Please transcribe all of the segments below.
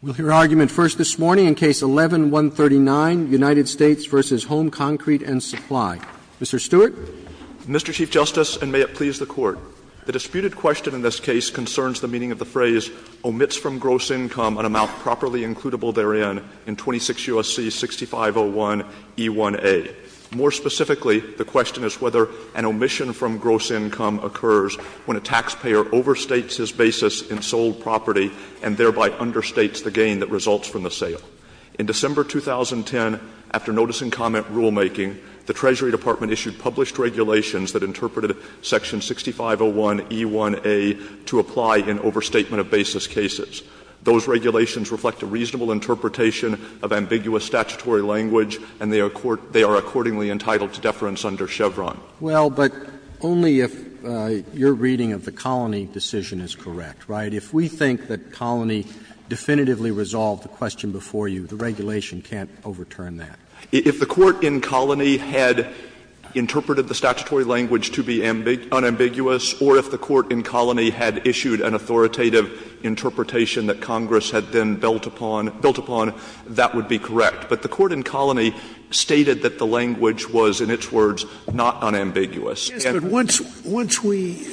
We'll hear argument first this morning in Case 11-139, United States v. Home Concrete & Supply. Mr. Stewart. Mr. Chief Justice, and may it please the Court, the disputed question in this case concerns the meaning of the phrase omits from gross income an amount properly includable therein in 26 U.S.C. 6501e1a. More specifically, the question is whether an omission from gross income occurs when a taxpayer overstates his basis in sold property and thereby understates the gain that results from the sale. In December 2010, after notice and comment rulemaking, the Treasury Department issued published regulations that interpreted section 6501e1a to apply in overstatement of basis cases. Those regulations reflect a reasonable interpretation of ambiguous statutory language, and they are accordingly entitled to deference under Chevron. Roberts. Well, but only if your reading of the Colony decision is correct, right? If we think that Colony definitively resolved the question before you, the regulation can't overturn that. If the court in Colony had interpreted the statutory language to be unambiguous or if the court in Colony had issued an authoritative interpretation that Congress had then built upon, that would be correct. But the court in Colony stated that the language was, in its words, not unambiguous. Scalia. Yes, but once we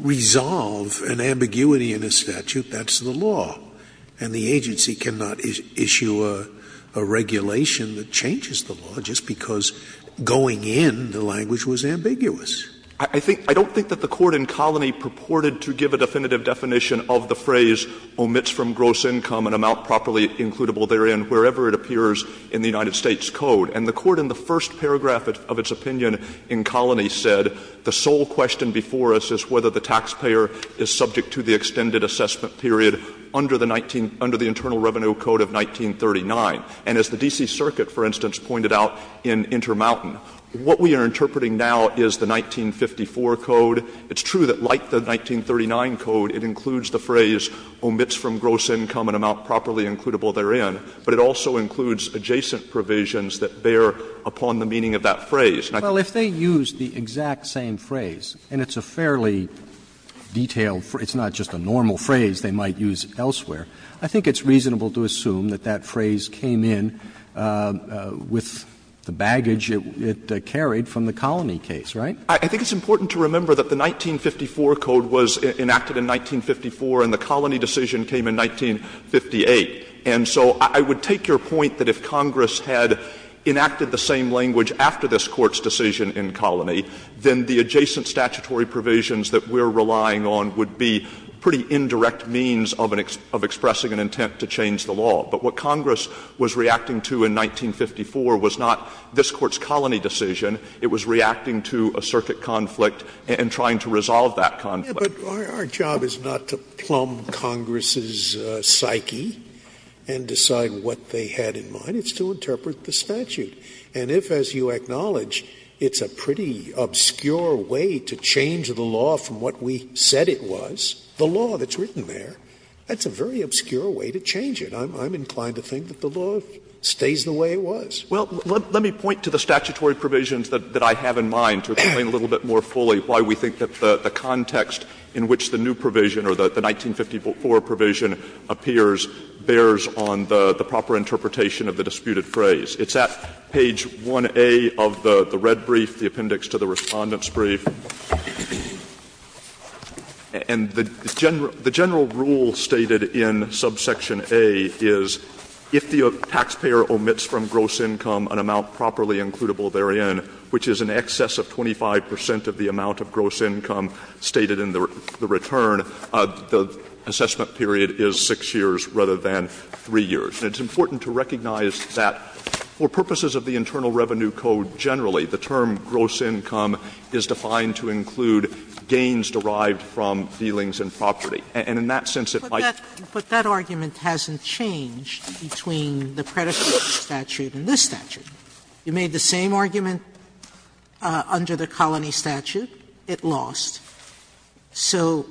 resolve an ambiguity in a statute, that's the law, and the agency cannot issue a regulation that changes the law just because going in, the language was ambiguous. Stewart. I don't think that the court in Colony purported to give a definitive definition of the phrase, omits from gross income an amount properly includable therein, wherever it appears in the United States Code. And the court in the first paragraph of its opinion in Colony said, the sole question before us is whether the taxpayer is subject to the extended assessment period under the 19 — under the Internal Revenue Code of 1939. And as the D.C. Circuit, for instance, pointed out in Intermountain, what we are interpreting now is the 1954 Code. It's true that like the 1939 Code, it includes the phrase, omits from gross income an amount properly includable therein, but it also includes adjacent provisions that bear upon the meaning of that phrase. an amount properly includable therein, wherever it appears in the United States Code. Roberts. Well, if they used the exact same phrase, and it's a fairly detailed phrase, it's important to remember that the 1954 Code was enacted in 1954 and the Colony decision came in 1958. And so I would take your point that if Congress had enacted the same language after this Court's decision in Colony, then the adjacent statutory provisions that we're relying on would be pretty indirect means of an — of expressing an intent to change the law. But what Congress was reacting to in 1954 was not this Court's Colony decision. It was reacting to a circuit conflict and trying to resolve that conflict. Scalia. But our job is not to plumb Congress's psyche and decide what they had in mind. It's to interpret the statute. And if, as you acknowledge, it's a pretty obscure way to change the law from what we said it was, the law that's written there, that's a very obscure way to change it. I'm inclined to think that the law stays the way it was. Well, let me point to the statutory provisions that I have in mind to explain a little bit more fully why we think that the context in which the new provision or the 1954 provision appears bears on the proper interpretation of the disputed phrase. It's at page 1A of the red brief, the appendix to the Respondent's brief. And the general rule stated in subsection A is if the taxpayer omits from gross income an amount properly includable therein, which is in excess of 25 percent of the amount of gross income stated in the return, the assessment period is 6 years rather than 3 years. And it's important to recognize that for purposes of the Internal Revenue Code generally, the term gross income is defined to include gains derived from dealings in property. And in that sense, it might be the case that it's not the case that it's not the case in this statute. You made the same argument under the Colony Statute, it lost. So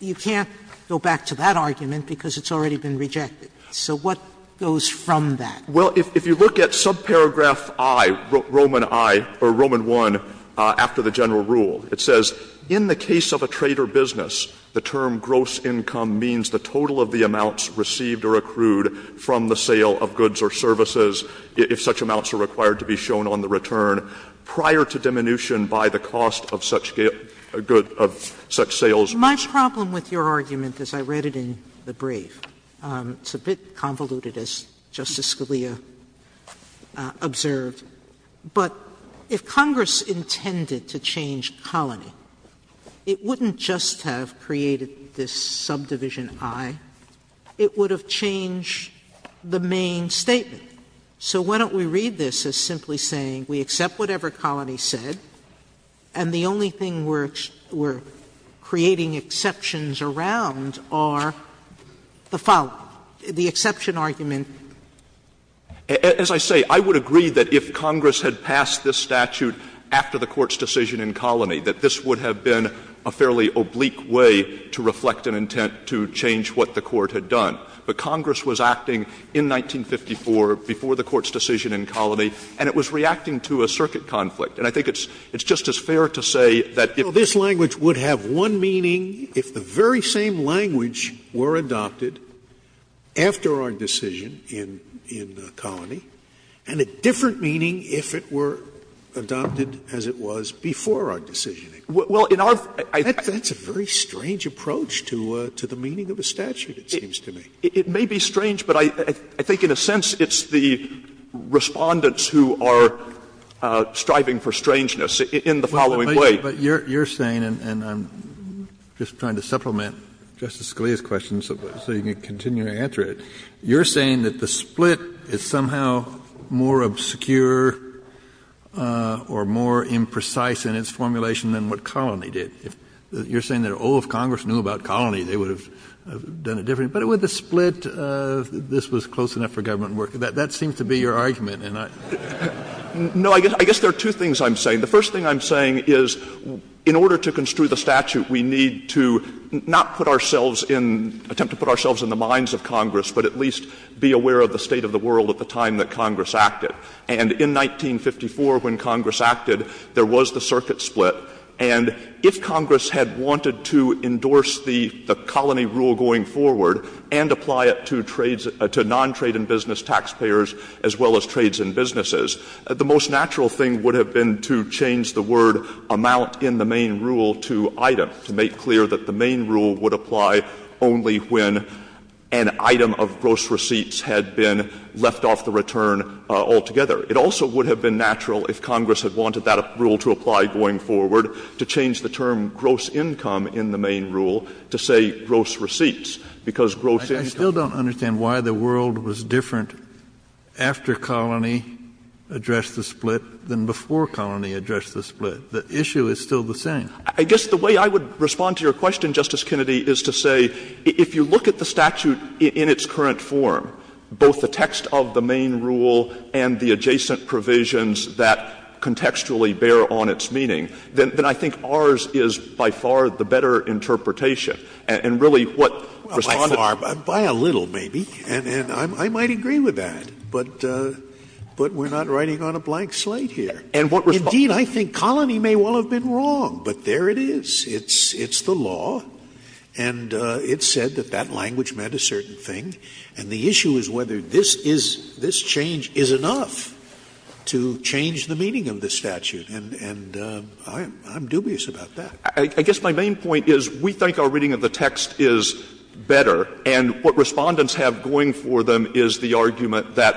you can't go back to that argument because it's already been rejected. So what goes from that? Well, if you look at subparagraph I, Roman I, or Roman I, after the general rule, it says in the case of a trade or business, the term gross income means the total of the amounts received or accrued from the sale of goods or services. If such amounts are required to be shown on the return prior to diminution by the cost of such sales. Sotomayor, my problem with your argument, as I read it in the brief, it's a bit convoluted, as Justice Scalia observed, but if Congress intended to change Colony, it wouldn't just have created this subdivision I, it would have changed the main statement. So why don't we read this as simply saying we accept whatever Colony said, and the only thing we're creating exceptions around are the following, the exception argument. As I say, I would agree that if Congress had passed this statute after the Court's decision in Colony, that this would have been a fairly oblique way to reflect an intent to change what the Court had done. But Congress was acting in 1954, before the Court's decision in Colony, and it was reacting to a circuit conflict. And I think it's just as fair to say that if this language would have one meaning if the very same language were adopted after our decision in Colony, and a different meaning if it were adopted as it was before our decision. That's a very strange approach to the meaning of a statute, it seems to me. It may be strange, but I think in a sense it's the Respondents who are striving for strangeness in the following way. Kennedy, but you're saying, and I'm just trying to supplement Justice Scalia's question so you can continue to answer it. You're saying that the split is somehow more obscure or more imprecise in its formulation than what Colony did. You're saying that, oh, if Congress knew about Colony, they would have done it differently. But with the split, this was close enough for government work. That seems to be your argument. And I don't know. No, I guess there are two things I'm saying. The first thing I'm saying is, in order to construe the statute, we need to not put ourselves in, attempt to put ourselves in the minds of Congress, but at least be aware of the state of the world at the time that Congress acted. And in 1954, when Congress acted, there was the circuit split. And if Congress had wanted to endorse the Colony rule going forward and apply it to trades to non-trade and business taxpayers as well as trades and businesses, the most natural thing would have been to change the word amount in the main rule to item, to make clear that the main rule would apply only when an item of gross receipts had been left off the return altogether. It also would have been natural, if Congress had wanted that rule to apply going forward, to change the term gross income in the main rule to say gross receipts, because gross income. Kennedy, I still don't understand why the world was different after Colony addressed the split than before Colony addressed the split. The issue is still the same. I guess the way I would respond to your question, Justice Kennedy, is to say, if you look at the statute in its current form, both the text of the main rule and the adjacent provisions that contextually bear on its meaning, then I think ours is by far the better interpretation. And really what Respondent does is to say that Colony is the law, and it's the law, and that language meant a certain thing, and the issue is whether this is, this change is enough to change the meaning of the statute. And I'm dubious about that. I guess my main point is we think our reading of the text is better, and what Respondents have going for them is the argument that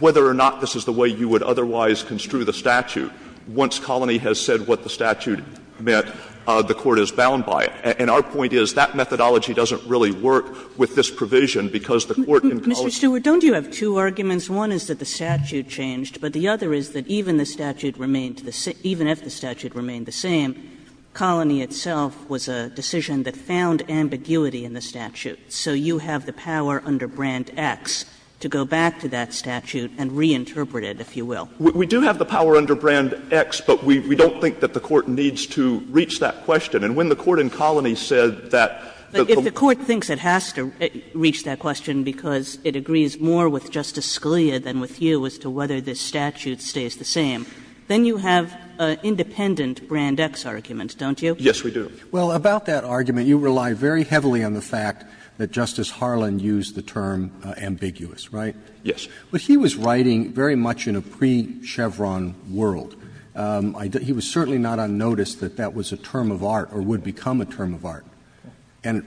whether or not this is the way you would otherwise construe the statute, once Colony has said what the statute meant, the court is bound by it. And our point is that methodology doesn't really work with this provision, because the court in Colony's case. Kagan Mr. Stewart, don't you have two arguments? One is that the statute changed, but the other is that even the statute remained the same, even if the statute remained the same, Colony itself was a decision that found ambiguity in the statute. So you have the power under Brand X to go back to that statute and reinterpret it, if you will. Stewart We do have the power under Brand X, but we don't think that the court needs to reach that question. And when the court in Colony said that the court thinks it has to reach that question because it agrees more with Justice Scalia than with you as to whether this statute stays the same, then you have an independent Brand X argument, don't you? Yes, we do. Roberts Well, about that argument, you rely very heavily on the fact that Justice Harlan used the term ambiguous, right? Stewart Yes. Roberts But he was writing very much in a pre-Chevron world. He was certainly not unnoticed that that was a term of art or would become a term of art. And,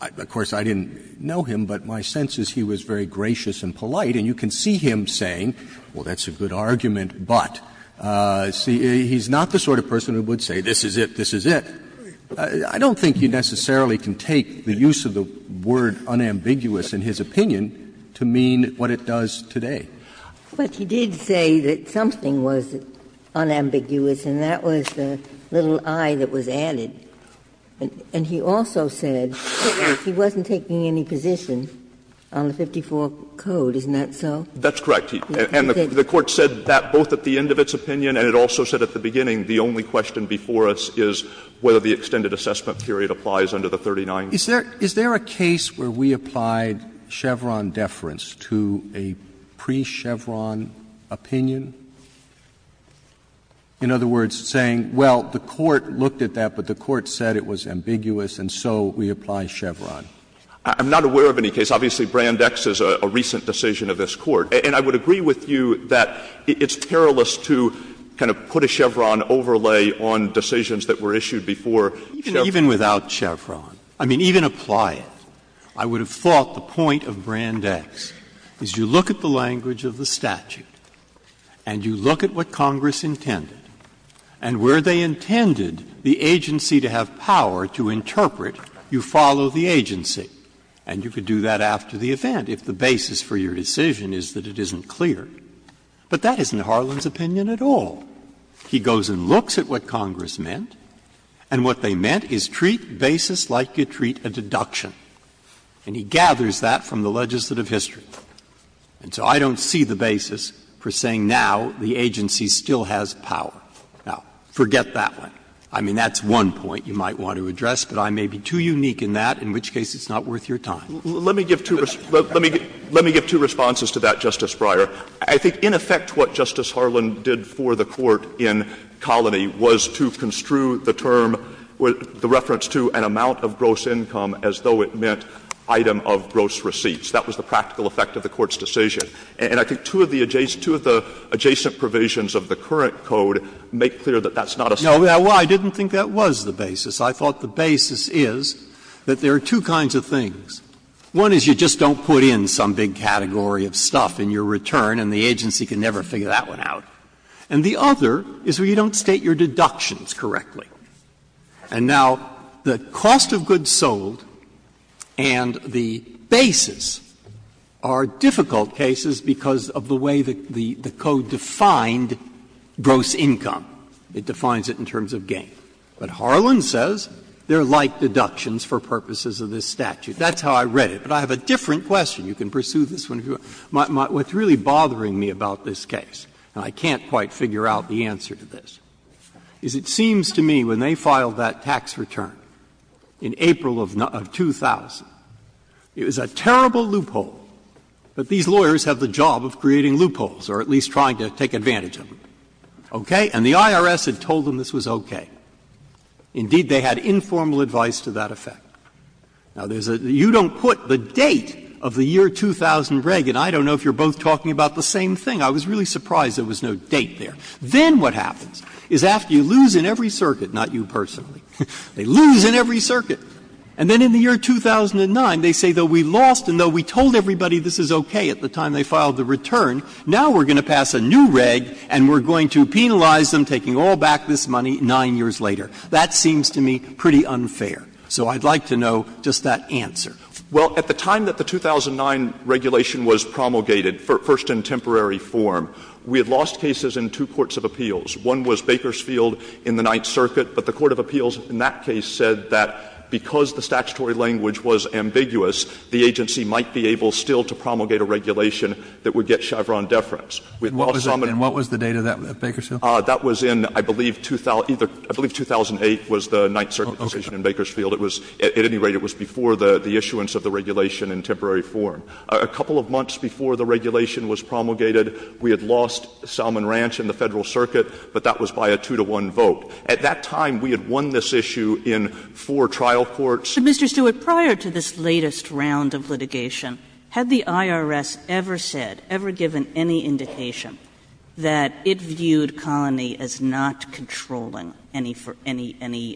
of course, I didn't know him, but my sense is he was very gracious and polite. And you can see him saying, well, that's a good argument, but, see, he's not the sort of person who would say this is it, this is it. I don't think you necessarily can take the use of the word unambiguous in his opinion to mean what it does today. Ginsburg But he did say that something was unambiguous, and that was the little i that was added. And he also said he wasn't taking any position on the 54 code, isn't that so? Stewart That's correct. And the Court said that both at the end of its opinion and it also said at the beginning the only question before us is whether the extended assessment period applies under the 39. Roberts Is there a case where we applied Chevron deference to a pre-Chevron opinion? In other words, saying, well, the Court looked at that, but the Court said it was ambiguous, and so we apply Chevron. Stewart I'm not aware of any case. Obviously, Brand X is a recent decision of this Court. And I would agree with you that it's terrible to kind of put a Chevron overlay on decisions that were issued before Chevron. And without Chevron, I mean, even apply it, I would have thought the point of Brand X is you look at the language of the statute and you look at what Congress intended and where they intended the agency to have power to interpret, you follow the agency. And you could do that after the event if the basis for your decision is that it isn't clear. But that isn't Harlan's opinion at all. He goes and looks at what Congress meant, and what they meant is treat basis like you treat a deduction. And he gathers that from the legislative history. And so I don't see the basis for saying now the agency still has power. Now, forget that one. I mean, that's one point you might want to address, but I may be too unique in that, in which case it's not worth your time. Breyer Let me give two responses to that, Justice Breyer. I think in effect what Justice Harlan did for the Court in Colony was to construe the term, the reference to an amount of gross income as though it meant item of gross receipts. That was the practical effect of the Court's decision. And I think two of the adjacent provisions of the current code make clear that that's not a statement. Breyer No, I didn't think that was the basis. I thought the basis is that there are two kinds of things. One is you just don't put in some big category of stuff in your return and the agency can never figure that one out. And the other is where you don't state your deductions correctly. And now, the cost of goods sold and the basis are difficult cases because of the way the code defined gross income. It defines it in terms of gain. But Harlan says they are like deductions for purposes of this statute. That's how I read it. But I have a different question. You can pursue this one if you want. What's really bothering me about this case, and I can't quite figure out the answer to this, is it seems to me when they filed that tax return in April of 2000, it was a terrible loophole, but these lawyers have the job of creating loopholes or at least trying to take advantage of them. Okay? And the IRS had told them this was okay. Indeed, they had informal advice to that effect. Now, there's a — you don't put the date of the year 2000 reg, and I don't know if you're both talking about the same thing. I was really surprised there was no date there. Then what happens is after you lose in every circuit, not you personally, they lose in every circuit, and then in the year 2009, they say, though we lost and though we told everybody this is okay at the time they filed the return, now we're going to pass a new reg and we're going to penalize them taking all back this money 9 years later. That seems to me pretty unfair. So I'd like to know just that answer. Well, at the time that the 2009 regulation was promulgated, first in temporary form, we had lost cases in two courts of appeals. One was Bakersfield in the Ninth Circuit, but the court of appeals in that case said that because the statutory language was ambiguous, the agency might be able still to promulgate a regulation that would get Chevron deference. And what was the date of that at Bakersfield? That was in, I believe, 2008 was the Ninth Circuit decision in Bakersfield. At any rate, it was before the issuance of the regulation in temporary form. A couple of months before the regulation was promulgated, we had lost Salmon Ranch in the Federal Circuit, but that was by a 2-to-1 vote. At that time, we had won this issue in four trial courts. But, Mr. Stewart, prior to this latest round of litigation, had the IRS ever said, ever given any indication that it viewed colony as not controlling any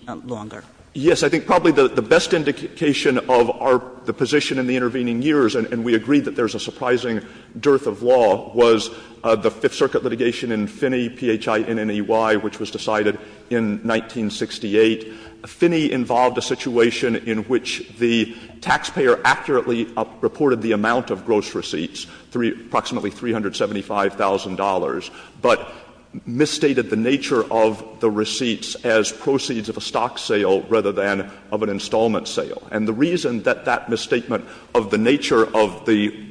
longer? Stewart. Yes. I think probably the best indication of our position in the intervening years, and we agree that there's a surprising dearth of law, was the Fifth Circuit litigation in Finney, P-H-I-N-N-E-Y, which was decided in 1968. Finney involved a situation in which the taxpayer accurately reported the amount of gross receipts, approximately $375,000, but misstated the nature of the receipts as proceeds of a stock sale rather than of an installment sale. And the reason that that misstatement of the nature of the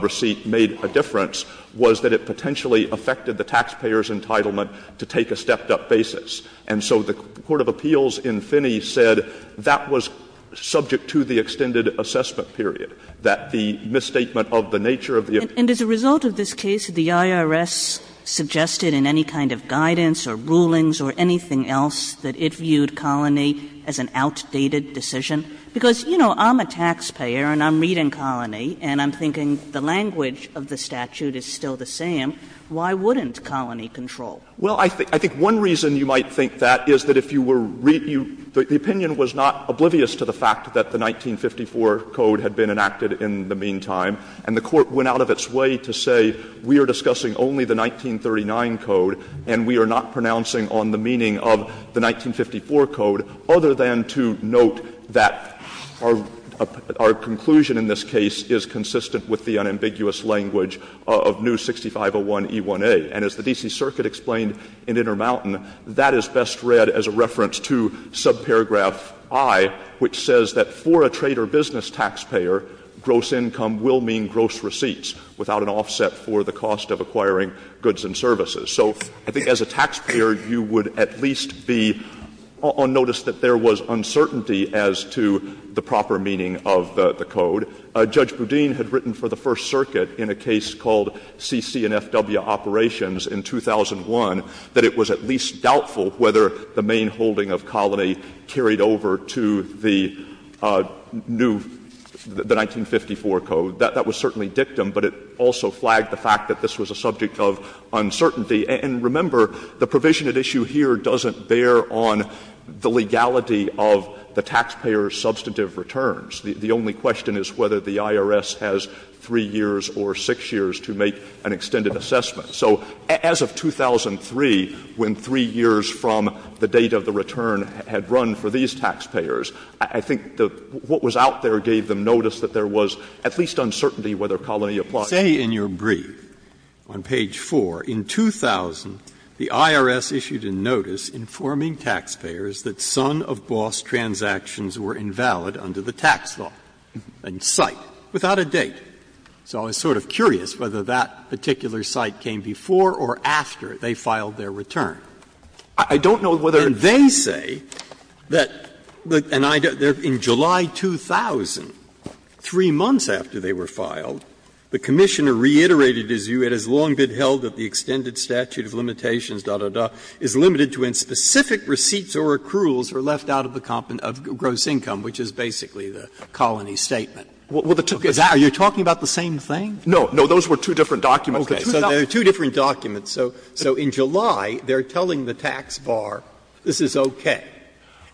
receipt made a difference was that it potentially affected the taxpayer's entitlement to take a stepped-up basis. And so the court of appeals in Finney said that was subject to the extended assessment period, that the misstatement of the nature of the appeal. And as a result of this case, the IRS suggested in any kind of guidance or rulings or anything else that it viewed Colony as an outdated decision. Because, you know, I'm a taxpayer and I'm reading Colony, and I'm thinking the language of the statute is still the same. Why wouldn't Colony control? Well, I think one reason you might think that is that if you were reading the opinion was not oblivious to the fact that the 1954 code had been enacted in the meantime, and the court went out of its way to say we are discussing only the 1939 code and we are not pronouncing on the meaning of the 1954 code, other than to note that our conclusion in this case is consistent with the unambiguous language of new 6501E1A. And as the D.C. Circuit explained in Intermountain, that is best read as a reference to subparagraph I, which says that for a trade or business taxpayer, gross income will mean gross receipts without an offset for the cost of acquiring goods and services. So I think as a taxpayer, you would at least be on notice that there was uncertainty as to the proper meaning of the code. Judge Boudin had written for the First Circuit in a case called C.C. and F.W. Operations in 2001 that it was at least doubtful whether the main holding of Colony carried over to the new, the 1954 code. That was certainly dictum, but it also flagged the fact that this was a subject of uncertainty. And remember, the provision at issue here doesn't bear on the legality of the taxpayer's substantive returns. The only question is whether the IRS has 3 years or 6 years to make an extended assessment. So as of 2003, when 3 years from the date of the return had run for these taxpayers, I think what was out there gave them notice that there was at least uncertainty whether Colony applied. Breyer, in your brief, on page 4, in 2000, the IRS issued a notice informing taxpayers that son-of-boss transactions were invalid under the tax law, and site, without a date. So I was sort of curious whether that particular site came before or after they filed their return. I don't know whether it's true. And they say that, and I don't know, in July 2000, 3 months after they were filed, the Commissioner reiterated his view it has long been held that the extended statute of limitations, da, da, da, is limited to when specific receipts or accruals are left out of gross income, which is basically the Colony statement. Are you talking about the same thing? Breyer, no, those were two different documents. Breyer, okay, so they're two different documents. So in July, they're telling the tax bar, this is okay,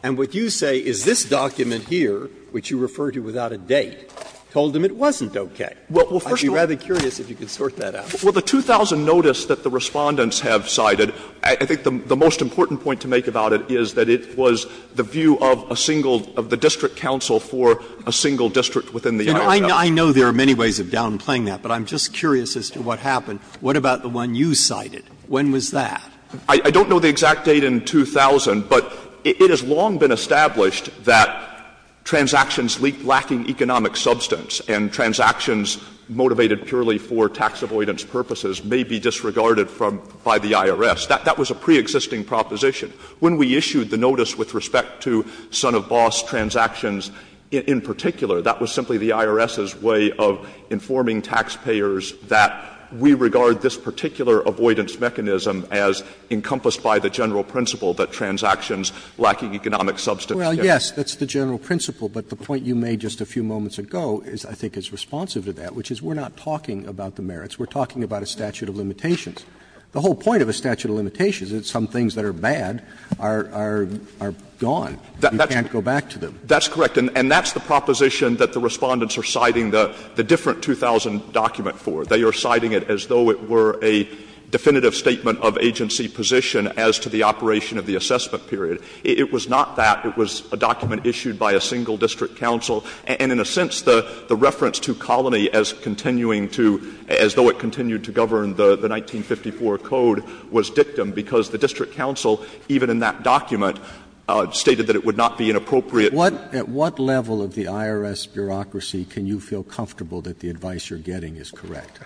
and what you say is this document here, which you refer to without a date, told them it wasn't okay. I'd be rather curious if you could sort that out. Well, the 2000 notice that the Respondents have cited, I think the most important point to make about it is that it was the view of a single, of the district council for a single district within the IRS. I know there are many ways of downplaying that, but I'm just curious as to what happened. What about the one you cited? When was that? I don't know the exact date in 2000, but it has long been established that transactions lacking economic substance and transactions motivated purely for tax avoidance purposes may be disregarded from by the IRS. That was a preexisting proposition. When we issued the notice with respect to son-of-boss transactions in particular, that was simply the IRS's way of informing taxpayers that we regard this particular tax avoidance mechanism as encompassed by the general principle that transactions lacking economic substance. Well, yes, that's the general principle, but the point you made just a few moments ago is, I think, is responsive to that, which is we're not talking about the merits. We're talking about a statute of limitations. The whole point of a statute of limitations is some things that are bad are gone. You can't go back to them. That's correct. And that's the proposition that the Respondents are citing the different 2000 document for. They are citing it as though it were a definitive statement of agency position as to the operation of the assessment period. It was not that. It was a document issued by a single district council. And in a sense, the reference to Colony as continuing to, as though it continued to govern the 1954 Code was dictum, because the district council, even in that document, stated that it would not be inappropriate. At what level of the IRS bureaucracy can you feel comfortable that the advice you're getting is correct?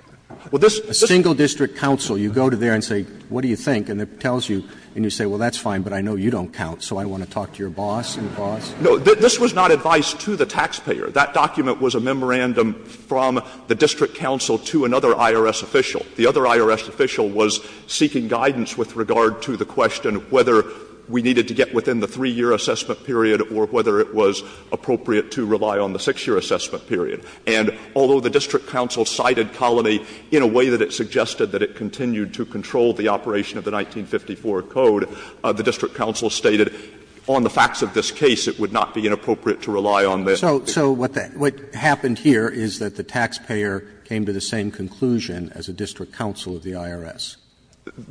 A single district council, you go to there and say, what do you think, and it tells you, and you say, well, that's fine, but I know you don't count, so I want to talk to your boss and boss. No. This was not advice to the taxpayer. That document was a memorandum from the district council to another IRS official. The other IRS official was seeking guidance with regard to the question of whether we needed to get within the 3-year assessment period or whether it was appropriate to rely on the 6-year assessment period. And although the district council cited Colony in a way that it suggested that it continued to control the operation of the 1954 Code, the district council stated on the facts of this case it would not be inappropriate to rely on that. Roberts. Roberts. So what happened here is that the taxpayer came to the same conclusion as a district council of the IRS.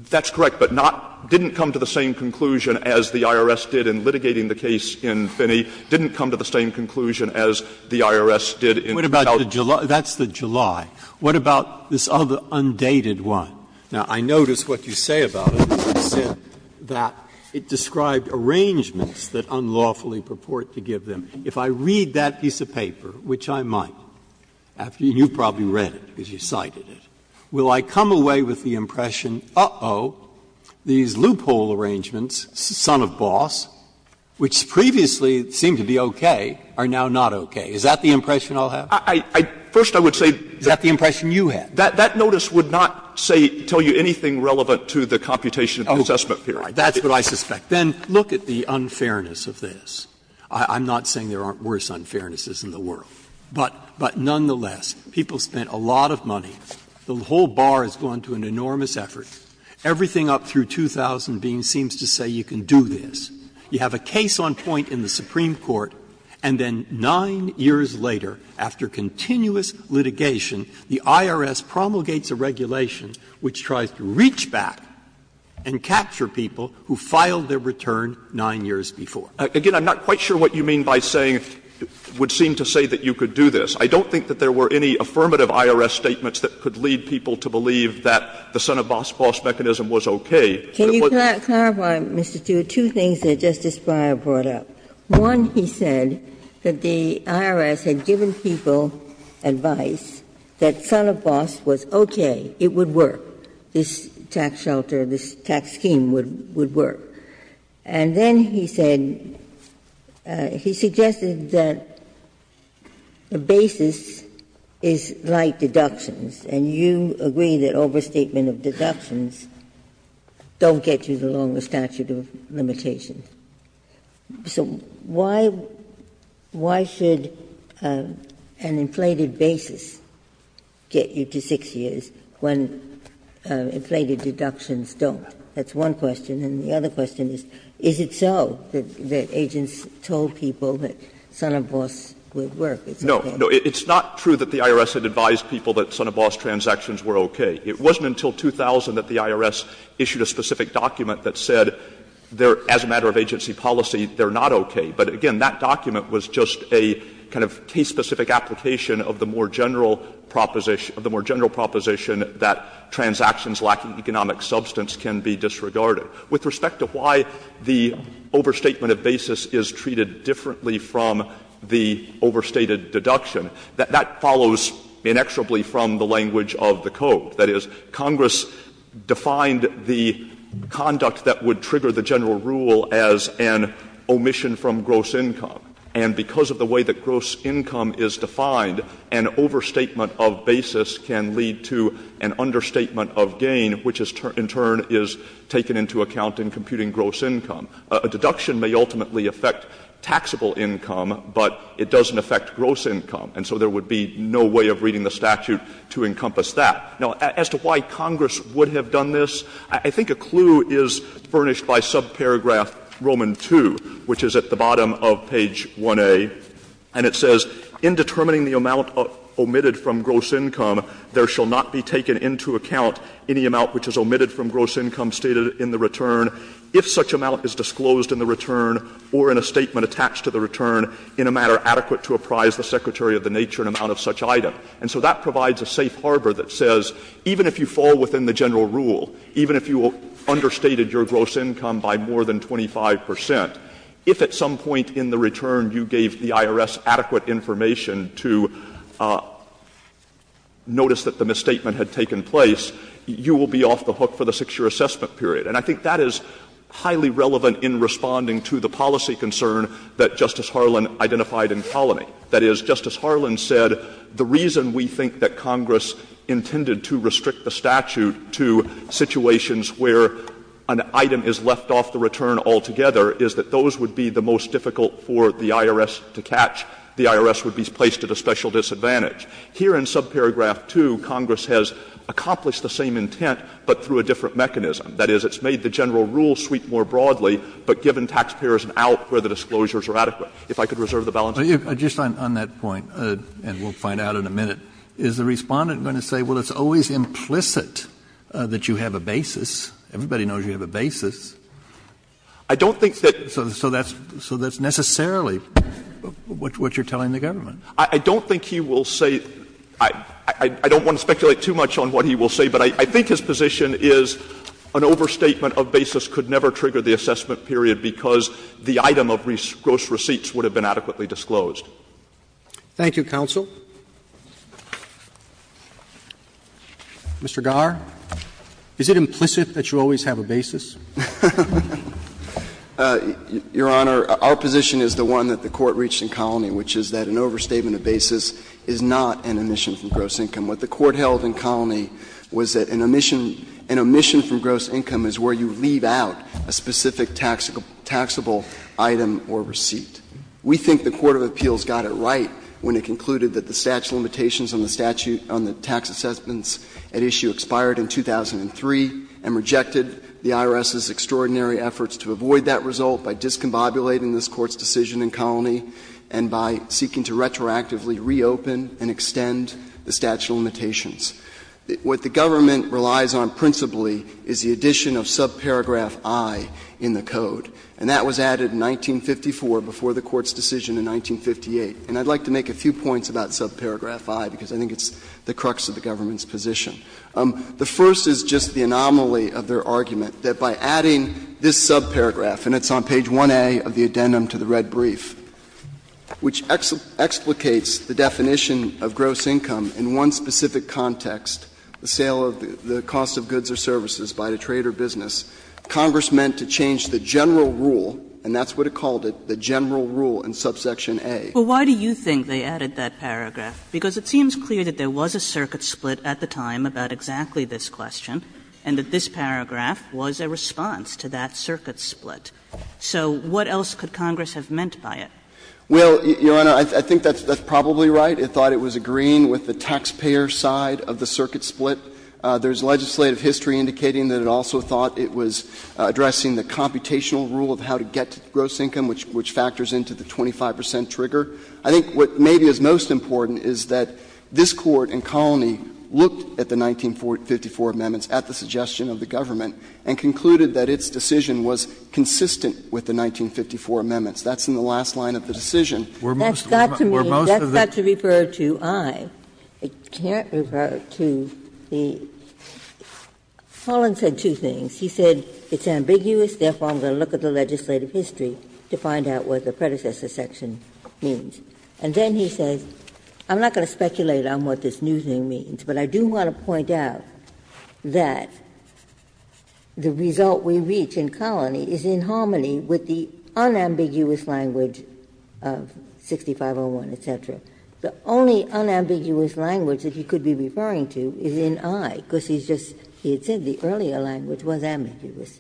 That's correct, but not — didn't come to the same conclusion as the IRS did in litigating the case in Finney, didn't come to the same conclusion as the IRS did in the case So what about the July? That's the July. What about this other undated one? Now, I notice what you say about it. You said that it described arrangements that unlawfully purport to give them. If I read that piece of paper, which I might, and you've probably read it because you cited it, will I come away with the impression, uh-oh, these loophole arrangements son of boss, which previously seemed to be okay, are now not okay? Is that the impression I'll have? First, I would say that that notice would not, say, tell you anything relevant to the computation of the assessment period. That's what I suspect. Then look at the unfairness of this. I'm not saying there aren't worse unfairnesses in the world, but nonetheless, people spent a lot of money. The whole bar has gone to an enormous effort. Everything up through 2000 seems to say you can do this. You have a case on point in the Supreme Court, and then 9 years later, after continuous litigation, the IRS promulgates a regulation which tries to reach back and capture people who filed their return 9 years before. Again, I'm not quite sure what you mean by saying, would seem to say that you could do this. I don't think that there were any affirmative IRS statements that could lead people to believe that the son of boss boss mechanism was okay. Ginsburg. Can you clarify, Mr. Tewitt, two things that Justice Breyer brought up? One, he said that the IRS had given people advice that son of boss was okay, it would work, this tax shelter, this tax scheme would work. And then he said, he suggested that the basis is like deductions, and you agree that overstatement of deductions don't get you the longest statute of limitation. So why should an inflated basis get you to 6 years when inflated deductions don't? That's one question. And the other question is, is it so that agents told people that son of boss would work? It's okay. It wasn't until 2000 that the IRS issued a specific document that said, as a matter of agency policy, they're not okay. But again, that document was just a kind of case-specific application of the more general proposition that transactions lacking economic substance can be disregarded. With respect to why the overstatement of basis is treated differently from the overstated deduction, that follows inexorably from the language of the Code. That is, Congress defined the conduct that would trigger the general rule as an omission from gross income. And because of the way that gross income is defined, an overstatement of basis can lead to an understatement of gain, which in turn is taken into account in computing gross income. A deduction may ultimately affect taxable income, but it doesn't affect gross income. And so there would be no way of reading the statute to encompass that. Now, as to why Congress would have done this, I think a clue is furnished by subparagraph Roman 2, which is at the bottom of page 1A. And it says, In determining the amount omitted from gross income, there shall not be taken into account any amount which is omitted from gross income stated in the return, if such amount is disclosed in the return or in a statement attached to the return in a matter adequate to apprise the Secretary of the nature and amount of such item. And so that provides a safe harbor that says, even if you fall within the general rule, even if you understated your gross income by more than 25 percent, if at some point in the return you gave the IRS adequate information to notice that the misstatement had taken place, you will be off the hook for the 6-year assessment period. And I think that is highly relevant in responding to the policy concern that Justice Harlan identified in Colony. That is, Justice Harlan said the reason we think that Congress intended to restrict the statute to situations where an item is left off the return altogether is that those would be the most difficult for the IRS to catch, the IRS would be placed at a special disadvantage. Here in subparagraph 2, Congress has accomplished the same intent but through a different mechanism. That is, it's made the general rule sweep more broadly, but given taxpayers an out where the disclosures are adequate. If I could reserve the balance of my time. Kennedy Just on that point, and we'll find out in a minute, is the Respondent going to say, well, it's always implicit that you have a basis, everybody knows you have a basis. So that's necessarily what you're telling the government. Stewart I don't think he will say — I don't want to speculate too much on what he will say, but I think his position is an overstatement of basis could never trigger the assessment period because the item of gross receipts would have been adequately disclosed. Roberts Thank you, counsel. Mr. Garre, is it implicit that you always have a basis? Garre Your Honor, our position is the one that the Court reached in Colony, which is that an overstatement of basis is not an omission from gross income. What the Court held in Colony was that an omission from gross income is where you leave out a specific taxable item or receipt. We think the Court of Appeals got it right when it concluded that the statute limitations on the statute — on the tax assessments at issue expired in 2003 and rejected the IRS's extraordinary efforts to avoid that result by discombobulating this Court's decision in Colony and by seeking to retroactively reopen and extend the statute of limitations. What the government relies on principally is the addition of subparagraph i in the code, and that was added in 1954 before the Court's decision in 1958. And I'd like to make a few points about subparagraph i because I think it's the crux of the government's position. The first is just the anomaly of their argument that by adding this subparagraph — and it's on page 1A of the addendum to the red brief — which explicates the definition of gross income in one specific context, the sale of the cost of goods or services by a trade or business, Congress meant to change the general rule — and that's what it called it, the general rule in subsection A. Kagan Well, why do you think they added that paragraph? Because it seems clear that there was a circuit split at the time about exactly this question and that this paragraph was a response to that circuit split. So what else could Congress have meant by it? Phillips Well, Your Honor, I think that's probably right. It thought it was agreeing with the taxpayer side of the circuit split. There's legislative history indicating that it also thought it was addressing the computational rule of how to get to gross income, which factors into the 25 percent trigger. I think what maybe is most important is that this Court in Colony looked at the 1954 amendments at the suggestion of the government and concluded that its decision was consistent with the 1954 amendments. That's in the last line of the decision. We're most of the— Ginsburg I can't refer to the — Holland said two things. He said it's ambiguous, therefore I'm going to look at the legislative history to find out what the predecessor section means. And then he says, I'm not going to speculate on what this new thing means, but I do want to point out that the result we reach in Colony is in harmony with the unambiguous language of 6501, et cetera. The only unambiguous language that he could be referring to is in I, because he's just — he had said the earlier language was ambiguous.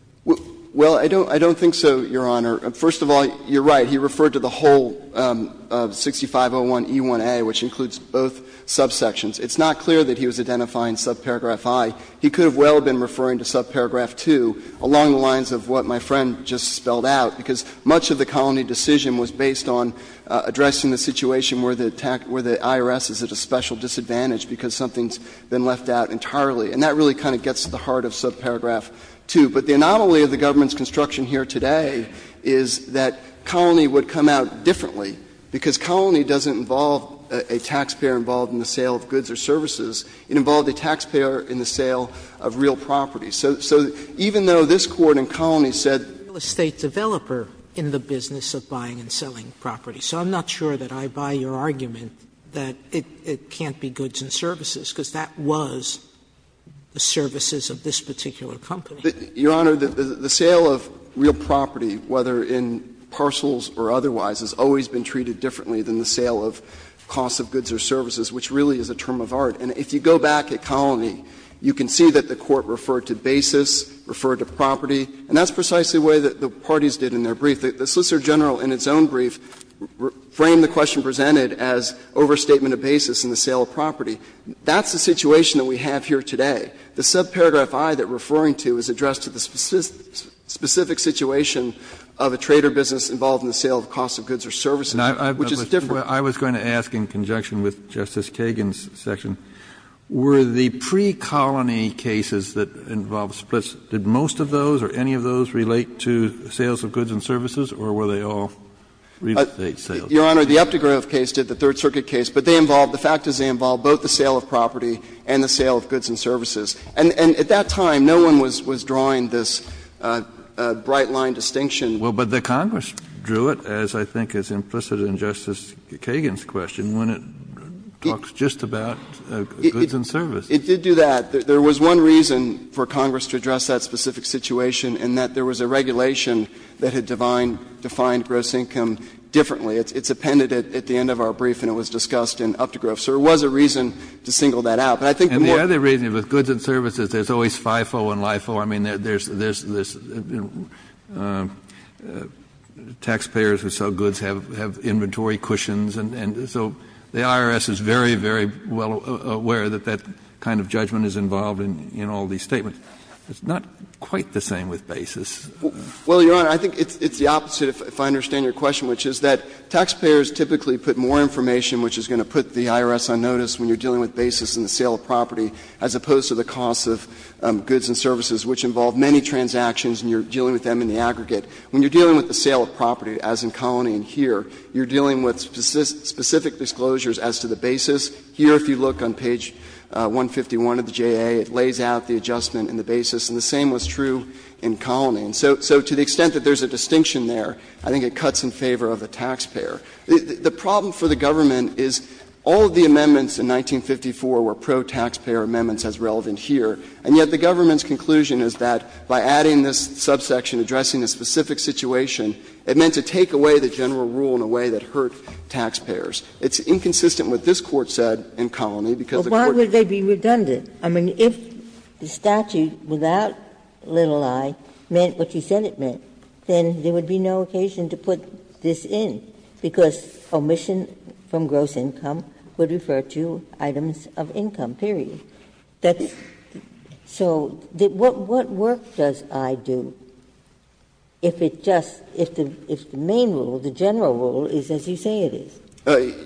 Well, I don't think so, Your Honor. First of all, you're right. He referred to the whole 6501e1a, which includes both subsections. It's not clear that he was identifying subparagraph I. He could have well been referring to subparagraph II along the lines of what my friend just spelled out, because much of the Colony decision was based on addressing the situation where the IRS is at a special disadvantage because something's been left out entirely. And that really kind of gets to the heart of subparagraph II. But the anomaly of the government's construction here today is that Colony would come out differently, because Colony doesn't involve a taxpayer involved in the sale of goods or services. It involved a taxpayer in the sale of real property. So even though this Court in Colony said the real estate developer in the business of buying and selling property, so I'm not sure that I buy your argument that it can't be goods and services, because that was the services of this particular company. Your Honor, the sale of real property, whether in parcels or otherwise, has always been treated differently than the sale of costs of goods or services, which really is a term of art. And if you go back at Colony, you can see that the Court referred to basis, referred to property, and that's precisely the way that the parties did in their brief. The Solicitor General in its own brief framed the question presented as overstatement of basis in the sale of property. That's the situation that we have here today. The subparagraph I that referring to is addressed to the specific situation of a trader business involved in the sale of costs of goods or services, which is different. Kennedy, I was going to ask in conjunction with Justice Kagan's section, were the precolony cases that involved splits, did most of those or any of those relate to sales of goods and services, or were they all real estate sales? Your Honor, the Uptegrove case did, the Third Circuit case, but they involved the fact that they involved both the sale of property and the sale of goods and services. And at that time, no one was drawing this bright-line distinction. Well, but the Congress drew it, as I think is implicit in Justice Kagan's question, when it talks just about goods and services. It did do that. There was one reason for Congress to address that specific situation, and that there was a regulation that had defined gross income differently. It's appended at the end of our brief, and it was discussed in Uptegrove. So there was a reason to single that out. But I think more of the reason is with goods and services, there's always FIFO and LIFO. I mean, there's taxpayers who sell goods have inventory cushions, and so the IRS is very, very well aware that that kind of judgment is involved in all these statements. It's not quite the same with basis. Well, Your Honor, I think it's the opposite, if I understand your question, which is that taxpayers typically put more information, which is going to put the IRS on notice when you're dealing with basis in the sale of property, as opposed to the cost of goods and services, which involve many transactions and you're dealing with them in the aggregate. When you're dealing with the sale of property, as in Colony and here, you're dealing with specific disclosures as to the basis. Here, if you look on page 151 of the J.A., it lays out the adjustment and the basis, and the same was true in Colony. And so to the extent that there's a distinction there, I think it cuts in favor of the taxpayer. The problem for the government is all of the amendments in 1954 were pro-taxpayer amendments as relevant here, and yet the government's conclusion is that by adding this subsection addressing a specific situation, it meant to take away the general rule in a way that hurt taxpayers. It's inconsistent with what this Court said in Colony, because the Court said that Ginsburg. But why would they be redundant? I mean, if the statute without little i meant what you said it meant, then there would be no occasion to put this in, because omission from gross income would refer to items of income, period. So what work does i do if it just, if the main rule, the general rule is as you say it is?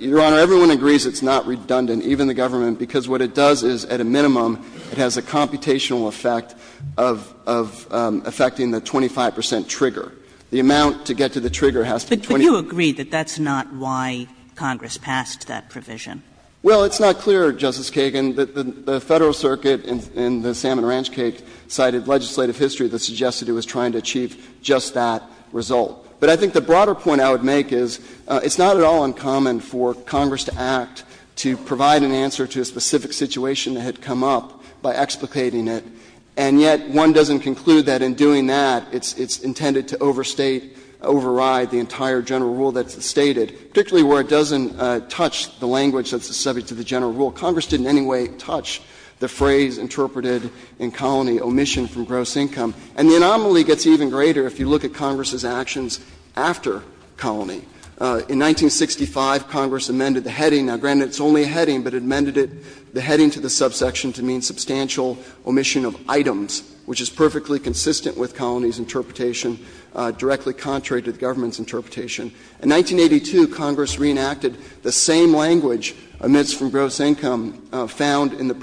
Your Honor, everyone agrees it's not redundant, even the government, because what it does is at a minimum it has a computational effect of affecting the 25 percent trigger. The amount to get to the trigger has to be 20. But you agree that that's not why Congress passed that provision? Well, it's not clear, Justice Kagan. The Federal Circuit in the Salmon Ranch case cited legislative history that suggested it was trying to achieve just that result. But I think the broader point I would make is it's not at all uncommon for Congress to act to provide an answer to a specific situation that had come up by explicating it. And yet one doesn't conclude that in doing that it's intended to overstate, override the entire general rule that's stated, particularly where it doesn't touch the language that's subject to the general rule. Congress didn't in any way touch the phrase interpreted in Colony, omission from gross income. And the anomaly gets even greater if you look at Congress's actions after Colony. In 1965, Congress amended the heading. Now, granted, it's only a heading, but it amended it, the heading to the subsection to mean substantial omission of items, which is perfectly consistent with Colony's interpretation, directly contrary to the government's interpretation. In 1982, Congress reenacted the same language, omits from gross income, found in the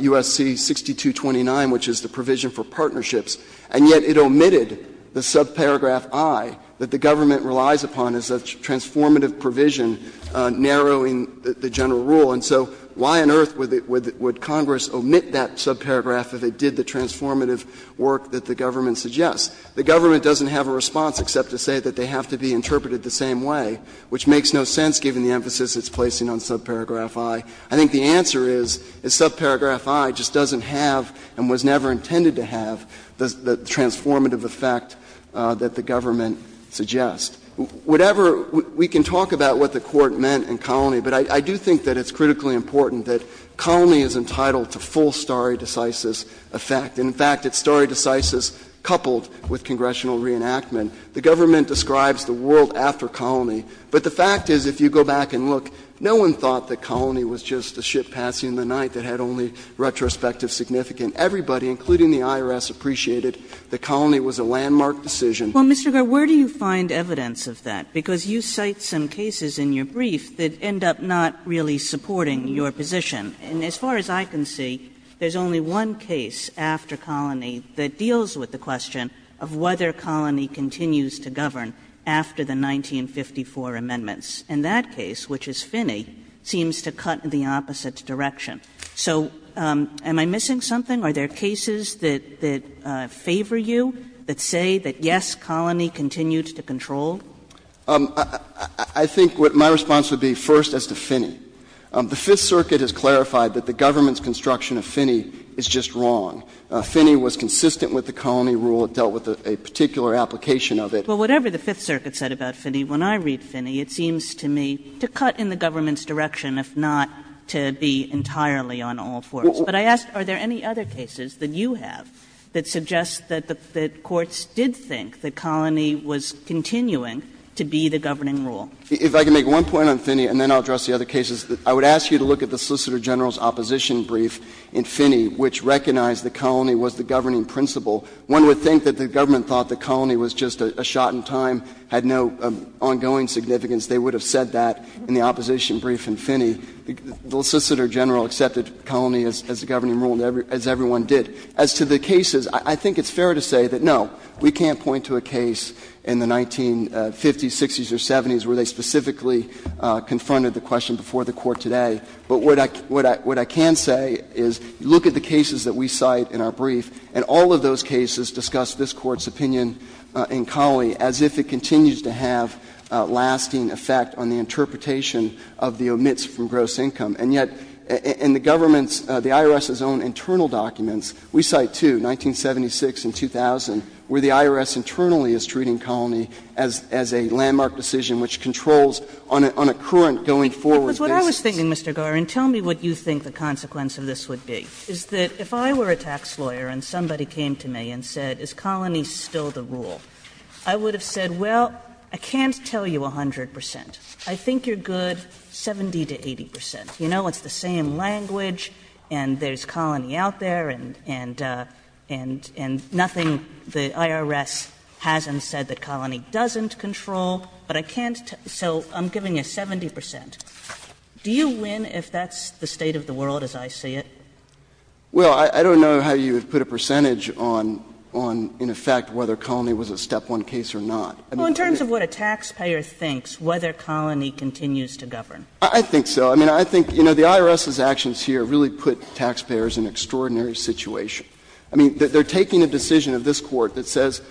U.S.C. 6229, which is the provision for partnerships, and yet it omitted the subparagraph I that the government relies upon as a transformative provision narrowing the general rule. And so why on earth would Congress omit that subparagraph if it did the transformative work that the government suggests? The government doesn't have a response except to say that they have to be interpreted the same way, which makes no sense given the emphasis it's placing on subparagraph I. I think the answer is subparagraph I just doesn't have and was never intended to have the transformative effect that the government suggests. Whatever we can talk about what the Court meant in Colony, but I do think that it's critically important that Colony is entitled to full stare decisis effect. In fact, it's stare decisis coupled with congressional reenactment. The government describes the world after Colony, but the fact is if you go back and look, no one thought that Colony was just a ship passing the night that had only retrospective significance. Everybody, including the IRS, appreciated that Colony was a landmark decision. Kagan Well, Mr. Garreau, where do you find evidence of that? Because you cite some cases in your brief that end up not really supporting your position. And as far as I can see, there's only one case after Colony that deals with the question of whether Colony continues to govern after the 1954 amendments. And that case, which is Finney, seems to cut in the opposite direction. So am I missing something? Are there cases that favor you, that say that, yes, Colony continued to control? Garreau I think my response would be first as to Finney. The Fifth Circuit has clarified that the government's construction of Finney is just wrong. Finney was consistent with the Colony rule. It dealt with a particular application of it. Well, whatever the Fifth Circuit said about Finney, when I read Finney, it seems to me to cut in the government's direction, if not to be entirely on all fours. But I ask, are there any other cases that you have that suggest that the courts did think that Colony was continuing to be the governing rule? Garreau If I can make one point on Finney, and then I'll address the other cases, I would ask you to look at the Solicitor General's opposition brief in Finney, which recognized that Colony was the governing principle. One would think that the government thought that Colony was just a shot in time, had no ongoing significance. They would have said that in the opposition brief in Finney. The Solicitor General accepted Colony as the governing rule, as everyone did. As to the cases, I think it's fair to say that, no, we can't point to a case in the 1950s, 60s, or 70s where they specifically confronted the question before the Court today. But what I can say is look at the cases that we cite in our brief, and all of those cases discuss this Court's opinion in Colony as if it continues to have a lasting effect on the interpretation of the omits from gross income. And yet, in the government's, the IRS's own internal documents, we cite two, 1976 and 2000, where the IRS internally is treating Colony as a landmark decision which controls on a current going forward basis. Kagan That was what I was thinking, Mr. Garreau, and tell me what you think the consequence of this would be. Is that if I were a tax lawyer and somebody came to me and said, is Colony still the rule, I would have said, well, I can't tell you 100 percent. I think you're good 70 to 80 percent. You know, it's the same language, and there's Colony out there, and nothing, the IRS hasn't said that Colony doesn't control, but I can't, so I'm giving you 70 percent. Do you win if that's the state of the world as I see it? Garreau Well, I don't know how you would put a percentage on, in effect, whether Colony was a step one case or not. I mean, look at it. Kagan Well, in terms of what a taxpayer thinks, whether Colony continues to govern. Garreau I think so. I mean, I think, you know, the IRS's actions here really put taxpayers in an extraordinary situation. I mean, they're taking a decision of this Court that says,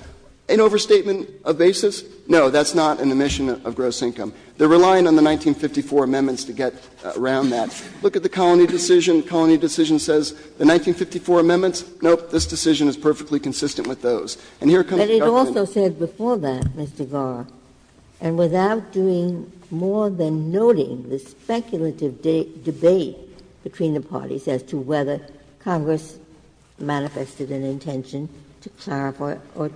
an overstatement of basis, no, that's not an omission of gross income. They're relying on the 1954 amendments to get around that. Look at the Colony decision. The Colony decision says the 1954 amendments, nope, this decision is perfectly consistent with those. And here comes the government. Ginsburg But it also said before that, Mr. Garreau, and without doing more than noting the speculative debate between the parties as to whether Congress manifested an intention to clarify or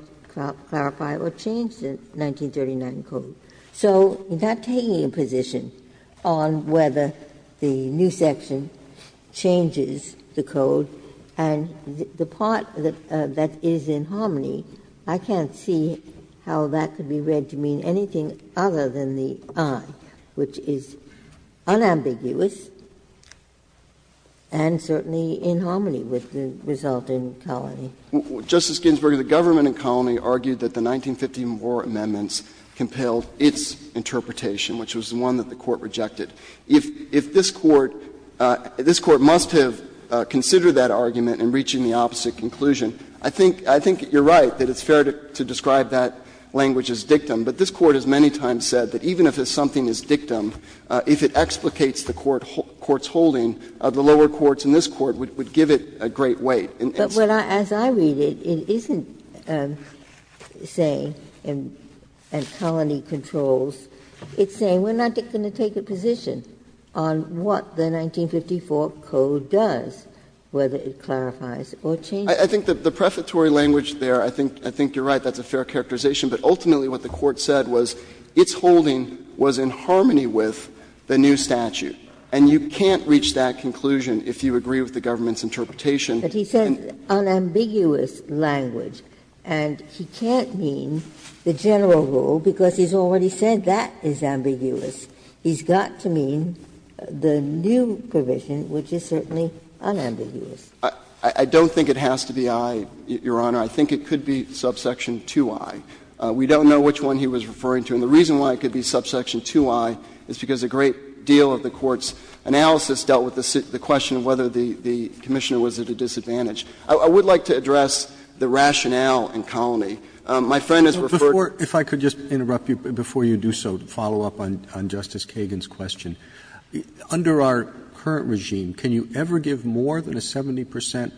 change the 1939 Code. So in not taking a position on whether the new section changes the Code and the part that is in Harmony, I can't see how that could be read to mean anything other than the I, which is unambiguous and certainly in Harmony with the resulting Colony. Garreau Justice Ginsburg, the government in Colony argued that the 1950 war amendments compelled its interpretation, which was the one that the Court rejected. If this Court, this Court must have considered that argument in reaching the opposite conclusion. I think you're right that it's fair to describe that language as dictum, but this Court has many times said that even if something is dictum, if it explicates the Court's holding, the lower courts and this Court would give it a great weight. Ginsburg But as I read it, it isn't saying in Colony controls. It's saying we're not going to take a position on what the 1954 Code does, whether it clarifies or changes. Garreau I think the prefatory language there, I think you're right, that's a fair characterization. But ultimately what the Court said was its holding was in Harmony with the new statute. And you can't reach that conclusion if you agree with the government's interpretation in the new statute. Ginsburg But it's an unambiguous language, and he can't mean the general rule, because he's already said that is ambiguous. He's got to mean the new provision, which is certainly unambiguous. Garreau I don't think it has to be I, Your Honor. I think it could be subsection 2i. We don't know which one he was referring to. And the reason why it could be subsection 2i is because a great deal of the Court's I would like to address the rationale in Colony. My friend has referred to Roberts If I could just interrupt you before you do so, to follow up on Justice Kagan's question. Under our current regime, can you ever give more than a 70 percent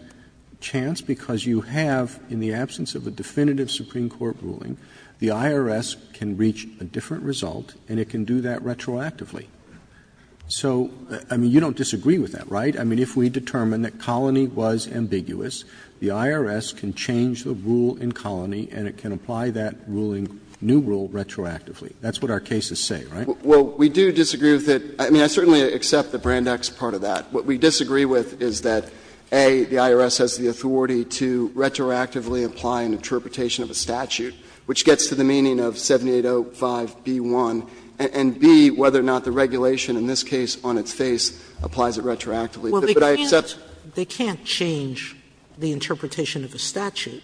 chance? Because you have, in the absence of a definitive Supreme Court ruling, the IRS can reach a different result, and it can do that retroactively. So, I mean, you don't disagree with that, right? I mean, if we determine that Colony was ambiguous, the IRS can change the rule in Colony, and it can apply that ruling, new rule, retroactively. That's what our cases say, right? Garreau Well, we do disagree with it. I mean, I certainly accept the Brandeis part of that. What we disagree with is that, A, the IRS has the authority to retroactively apply an interpretation of a statute, which gets to the meaning of 7805b1, and, B, whether or not the regulation in this case on its face applies it retroactively. But I accept that. Sotomayor They can't change the interpretation of a statute,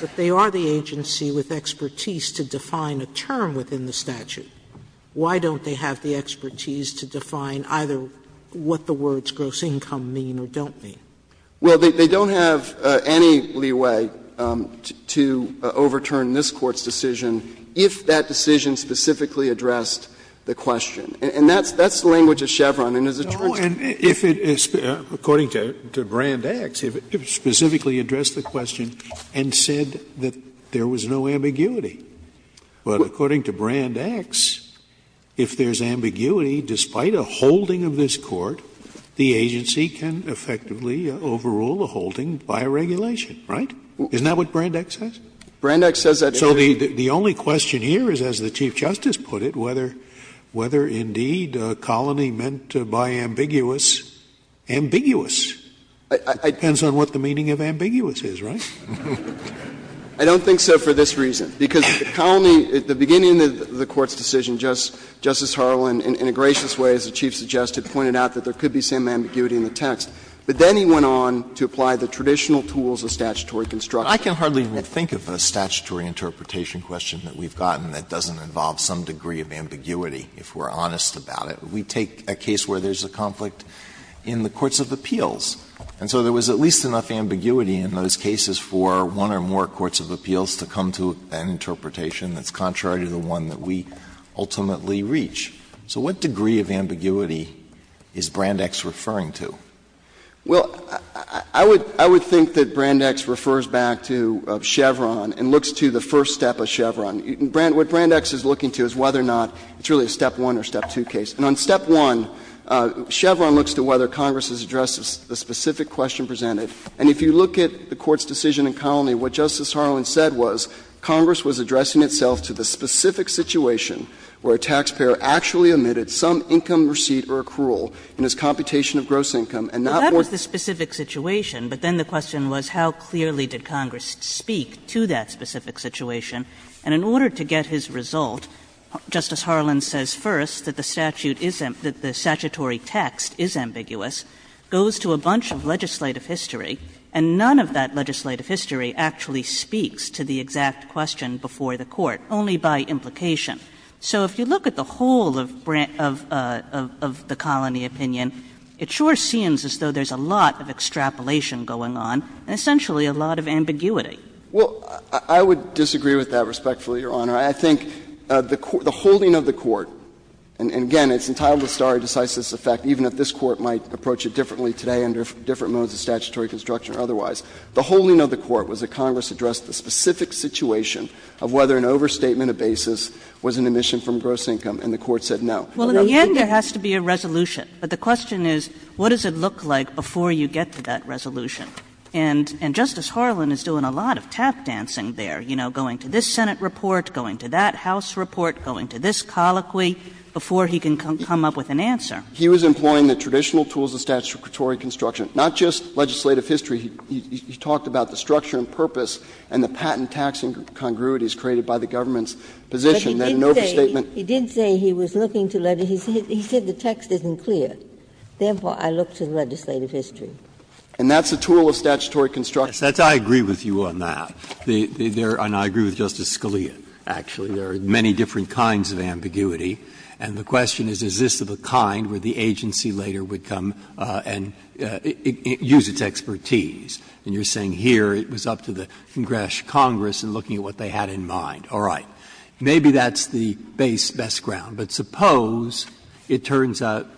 but they are the agency with expertise to define a term within the statute. Why don't they have the expertise to define either what the words gross income mean or don't mean? Garreau Well, they don't have any leeway to overturn this Court's decision if that decision specifically addressed the question. And that's the language of Chevron. And as it turns out, it's not. Scalia According to Brandeis, if it specifically addressed the question and said that there was no ambiguity. But according to Brandeis, if there's ambiguity, despite a holding of this Court, the agency can effectively overrule the holding by a regulation, right? Isn't that what Brandeis says? Garreau Brandeis says that it is. Scalia So the only question here is, as the Chief Justice put it, whether indeed a colony meant by ambiguous, ambiguous. It depends on what the meaning of ambiguous is, right? Garreau I don't think so for this reason. Because the colony, at the beginning of the Court's decision, Justice Harlan, in a gracious way, as the Chief suggested, pointed out that there could be some ambiguity in the text. But then he went on to apply the traditional tools of statutory construction. Alito I can hardly think of a statutory interpretation question that we've gotten that doesn't involve some degree of ambiguity, if we're honest about it. We take a case where there's a conflict in the courts of appeals. And so there was at least enough ambiguity in those cases for one or more courts of appeals to come to an interpretation that's contrary to the one that we ultimately reach. So what degree of ambiguity is Brandeis referring to? Garreau Well, I would think that Brandeis refers back to Chevron and looks to the first step of Chevron. What Brandeis is looking to is whether or not it's really a step one or step two case. And on step one, Chevron looks to whether Congress has addressed the specific question presented. And if you look at the Court's decision in Colony, what Justice Harlan said was Congress was addressing itself to the specific situation where a taxpayer actually omitted some income receipt or accrual in his computation of gross income and not more. Kagan That was the specific situation, but then the question was how clearly did Congress speak to that specific situation. And in order to get his result, Justice Harlan says first that the statute is — that the statutory text is ambiguous, goes to a bunch of legislative history, and none of that legislative history actually speaks to the exact question before the Court, only by implication. So if you look at the whole of the Colony opinion, it sure seems as though there's a lot of extrapolation going on and essentially a lot of ambiguity. Well, I would disagree with that, respectfully, Your Honor. I think the holding of the Court, and again, it's entitled to stare decisis effect, even if this Court might approach it differently today under different modes of statutory construction or otherwise. The holding of the Court was that Congress addressed the specific situation of whether an overstatement of basis was an omission from gross income, and the Court said no. Kagan Well, in the end, there has to be a resolution. But the question is, what does it look like before you get to that resolution? And Justice Harlan is doing a lot of tap dancing there, you know, going to this Senate report, going to that House report, going to this colloquy, before he can come up with an answer. He was employing the traditional tools of statutory construction, not just legislative history. He talked about the structure and purpose and the patent taxing congruities created by the government's position that an overstatement. But he did say he was looking to let it — he said the text isn't clear. Therefore, I look to the legislative history. And that's a tool of statutory construction. Breyer, I agree with you on that. And I agree with Justice Scalia, actually. There are many different kinds of ambiguity, and the question is, is this of a kind where the agency later would come and use its expertise? And you're saying here it was up to the Congress and looking at what they had in mind. All right. Maybe that's the base, best ground. But suppose it turns out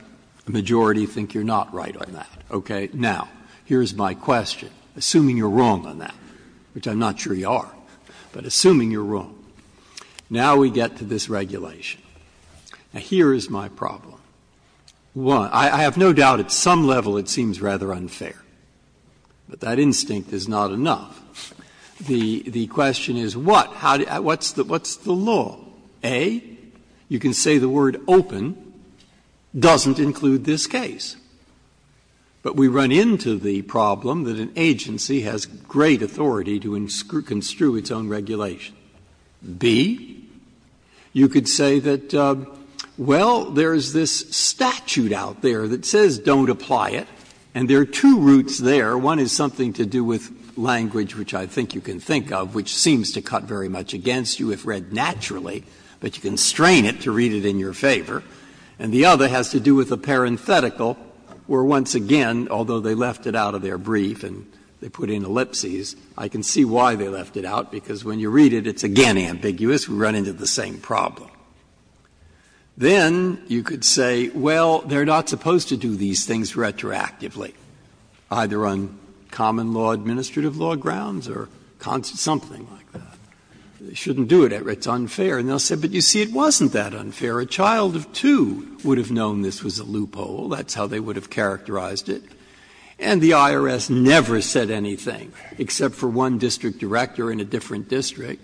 a majority think you're not right on that. Okay. Now, here's my question, assuming you're wrong on that, which I'm not sure you are, but assuming you're wrong. Now we get to this regulation. Now, here is my problem. One, I have no doubt at some level it seems rather unfair, but that instinct is not enough. The question is what? What's the law? A, you can say the word open doesn't include this case. But we run into the problem that an agency has great authority to construe its own regulation. B, you could say that, well, there is this statute out there that says don't apply it, and there are two roots there. One is something to do with language, which I think you can think of, which seems to cut very much against you if read naturally, but you can strain it to read it in your favor. And the other has to do with a parenthetical where, once again, although they left it out of their brief and they put in ellipses, I can see why they left it out, because when you read it, it's again ambiguous. We run into the same problem. Then you could say, well, they're not supposed to do these things retroactively, either on common law, administrative law grounds or something like that. They shouldn't do it. It's unfair. And they'll say, but you see, it wasn't that unfair. A child of two would have known this was a loophole. That's how they would have characterized it. And the IRS never said anything, except for one district director in a different district,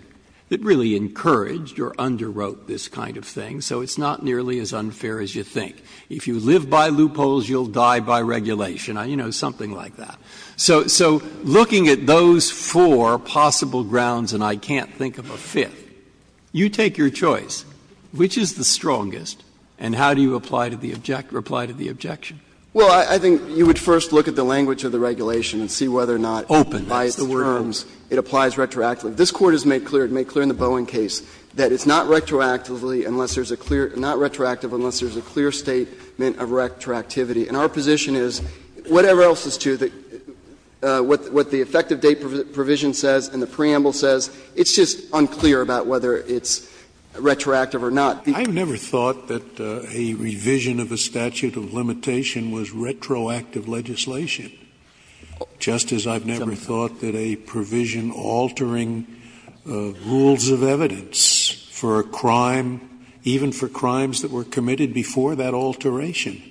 that really encouraged or underwrote this kind of thing. So it's not nearly as unfair as you think. If you live by loopholes, you'll die by regulation. You know, something like that. So looking at those four possible grounds, and I can't think of a fifth, you take your choice, which is the strongest, and how do you apply to the objection? Well, I think you would first look at the language of the regulation and see whether or not, by its terms, it applies retroactively. This Court has made clear, it made clear in the Bowen case, that it's not retroactively unless there's a clear – not retroactive unless there's a clear statement of retroactivity. And our position is, whatever else is true, what the effective date provision says and the preamble says, it's just unclear about whether it's retroactive or not. Scalia. I've never thought that a revision of a statute of limitation was retroactive legislation, just as I've never thought that a provision altering rules of evidence for a crime, even for crimes that were committed before that alteration,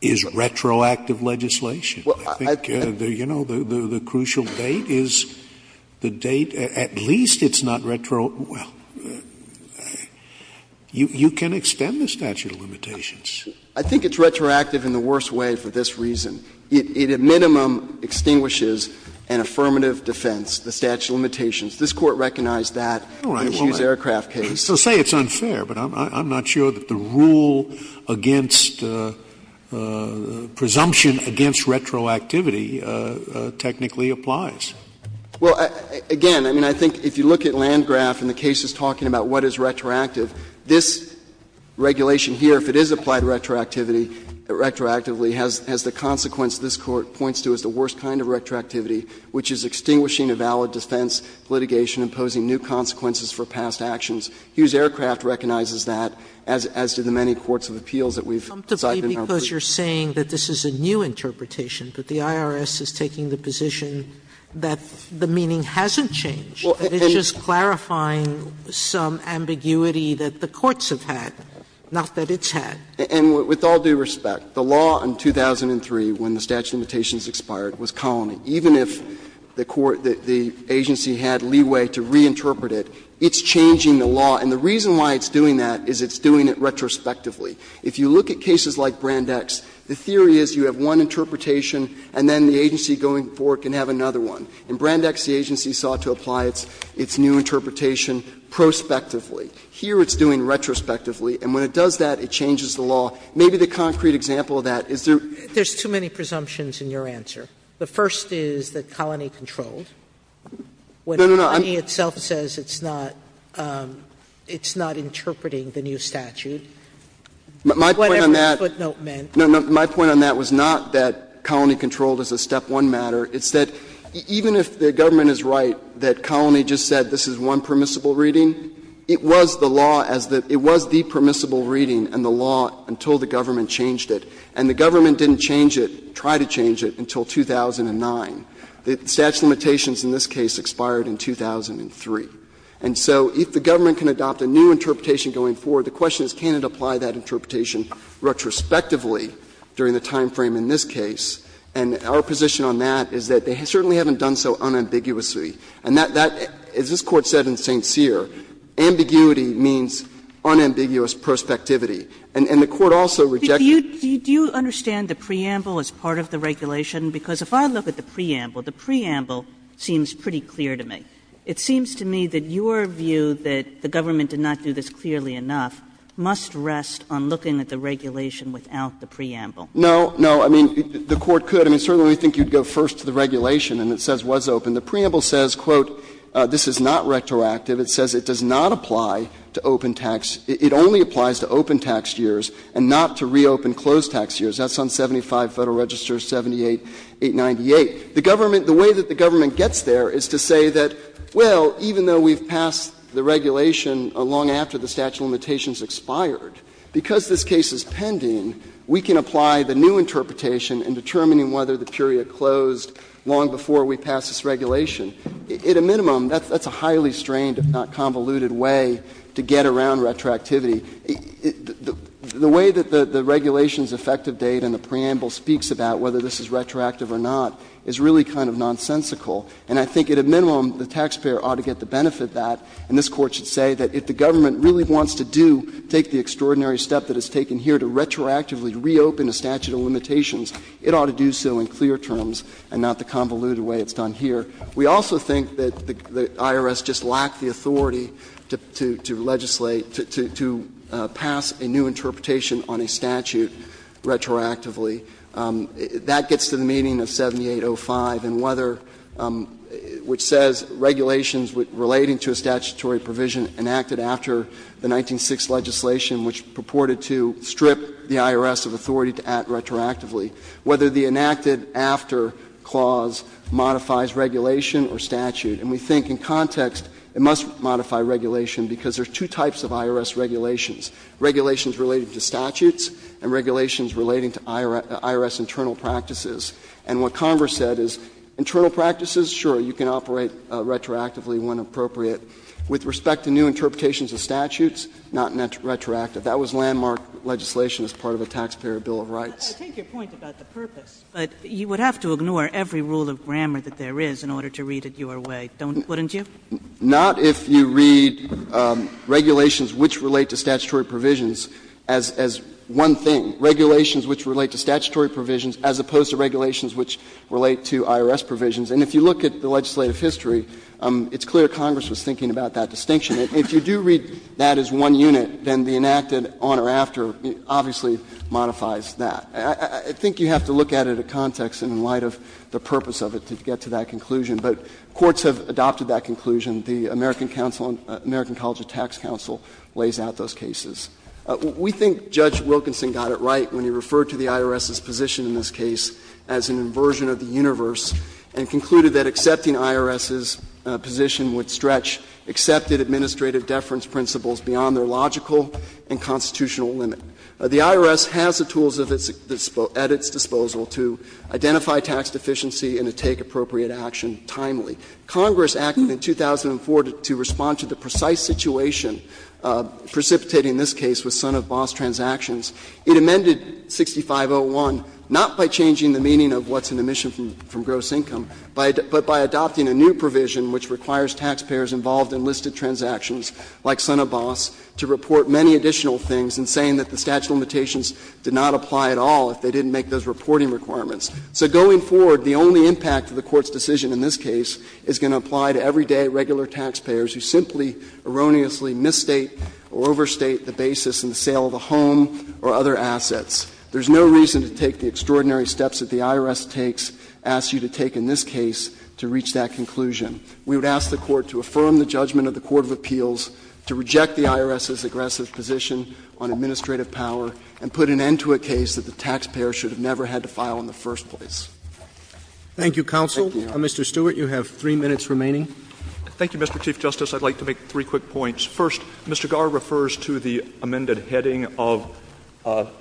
is retroactive legislation. I think, you know, the crucial date is the date at least it's not retroactive – well, you can extend the statute of limitations. I think it's retroactive in the worst way for this reason. It at minimum extinguishes an affirmative defense, the statute of limitations. This Court recognized that in the Hughes Aircraft case. Scalia. So say it's unfair, but I'm not sure that the rule against – presumption against retroactivity technically applies. Well, again, I mean, I think if you look at Landgraf and the cases talking about what is retroactive, this regulation here, if it is applied retroactively, has the consequence this Court points to as the worst kind of retroactivity, which is extinguishing a valid defense litigation, imposing new consequences for past actions. Hughes Aircraft recognizes that, as do the many courts of appeals that we've cited in our briefs. Sotomayor, because you're saying that this is a new interpretation, but the IRS is taking the position that the meaning hasn't changed, that it's just clarifying some ambiguity that the courts have had, not that it's had. And with all due respect, the law in 2003, when the statute of limitations expired, was colony. Even if the agency had leeway to reinterpret it, it's changing the law. And the reason why it's doing that is it's doing it retrospectively. If you look at cases like Brandex, the theory is you have one interpretation and then the agency going forward can have another one. In Brandex, the agency sought to apply its new interpretation prospectively. Here it's doing retrospectively, and when it does that, it changes the law. Maybe the concrete example of that is there's too many presumptions in your answer. The first is that colony controlled. When colony itself says it's not interpreting the new statute, whatever the footnote meant. My point on that was not that colony controlled is a step one matter. It's that even if the government is right that colony just said this is one permissible reading, it was the law as the the permissible reading and the law until the government changed it. And the government didn't change it, try to change it, until 2009. The statute of limitations in this case expired in 2003. And so if the government can adopt a new interpretation going forward, the question is can it apply that interpretation retrospectively during the time frame in this case. And our position on that is that they certainly haven't done so unambiguously. And that, as this Court said in St. Cyr, ambiguity means unambiguous prospectivity. And the Court also rejected that. Kagan. Do you understand the preamble as part of the regulation? Because if I look at the preamble, the preamble seems pretty clear to me. It seems to me that your view that the government did not do this clearly enough must rest on looking at the regulation without the preamble. No, no. I mean, the Court could. I mean, certainly we think you would go first to the regulation and it says was open. The preamble says, quote, this is not retroactive. It says it does not apply to open tax. It only applies to open tax years and not to reopen closed tax years. That's on 75 Federal Registers 78, 898. The government, the way that the government gets there is to say that, well, even though we've passed the regulation long after the statute of limitations expired, because this case is pending, we can apply the new interpretation in determining whether the period closed long before we passed this regulation. At a minimum, that's a highly strained, if not convoluted way to get around retroactivity. The way that the regulation's effective date and the preamble speaks about whether this is retroactive or not is really kind of nonsensical. And I think at a minimum the taxpayer ought to get the benefit of that, and this Court should say that if the government really wants to do, take the extraordinary step that is taken here to retroactively reopen the statute of limitations, it ought to do so in clear terms and not the convoluted way it's done here. We also think that the IRS just lacked the authority to legislate, to pass a new interpretation on a statute retroactively. That gets to the meaning of 7805, and whether, which says regulations relating to a statutory provision enacted after the 1906 legislation, which purported to strip the IRS of authority to act retroactively, whether the enacted after clause modifies regulation or statute. And we think in context it must modify regulation because there's two types of IRS regulations, regulations related to statutes and regulations relating to IRS internal practices. And what Converse said is internal practices, sure, you can operate retroactively when appropriate. With respect to new interpretations of statutes, not retroactive. That was landmark legislation as part of the Taxpayer Bill of Rights. Kagan. I take your point about the purpose, but you would have to ignore every rule of grammar that there is in order to read it your way, wouldn't you? Not if you read regulations which relate to statutory provisions as one thing. Regulations which relate to statutory provisions as opposed to regulations which relate to IRS provisions. And if you look at the legislative history, it's clear Congress was thinking about that distinction. If you do read that as one unit, then the enacted on or after obviously modifies that. I think you have to look at it in context in light of the purpose of it to get to that conclusion. But courts have adopted that conclusion. The American Council, American College of Tax Counsel lays out those cases. We think Judge Wilkinson got it right when he referred to the IRS's position in this case as an inversion of the universe and concluded that accepting IRS's position would stretch accepted administrative deference principles beyond their logical and constitutional limit. The IRS has the tools at its disposal to identify tax deficiency and to take appropriate action timely. Congress acted in 2004 to respond to the precise situation precipitating this case with Son of Boss transactions. It amended 6501 not by changing the meaning of what's in the mission from gross income, but by adopting a new provision which requires taxpayers involved in listed transactions like Son of Boss to report many additional things and saying that the statute of limitations did not apply at all if they didn't make those reporting requirements. So going forward, the only impact of the Court's decision in this case is going to apply to everyday regular taxpayers who simply erroneously misstate or overstate the basis in the sale of a home or other assets. There's no reason to take the extraordinary steps that the IRS takes, asks you to take in this case, to reach that conclusion. We would ask the Court to affirm the judgment of the court of appeals, to reject the IRS's aggressive position on administrative power, and put an end to a case that the taxpayer should have never had to file in the first place. Roberts. Thank you, counsel. Mr. Stewart, you have 3 minutes remaining. Stewart. Thank you, Mr. Chief Justice. I'd like to make three quick points. First, Mr. Garre refers to the amended heading of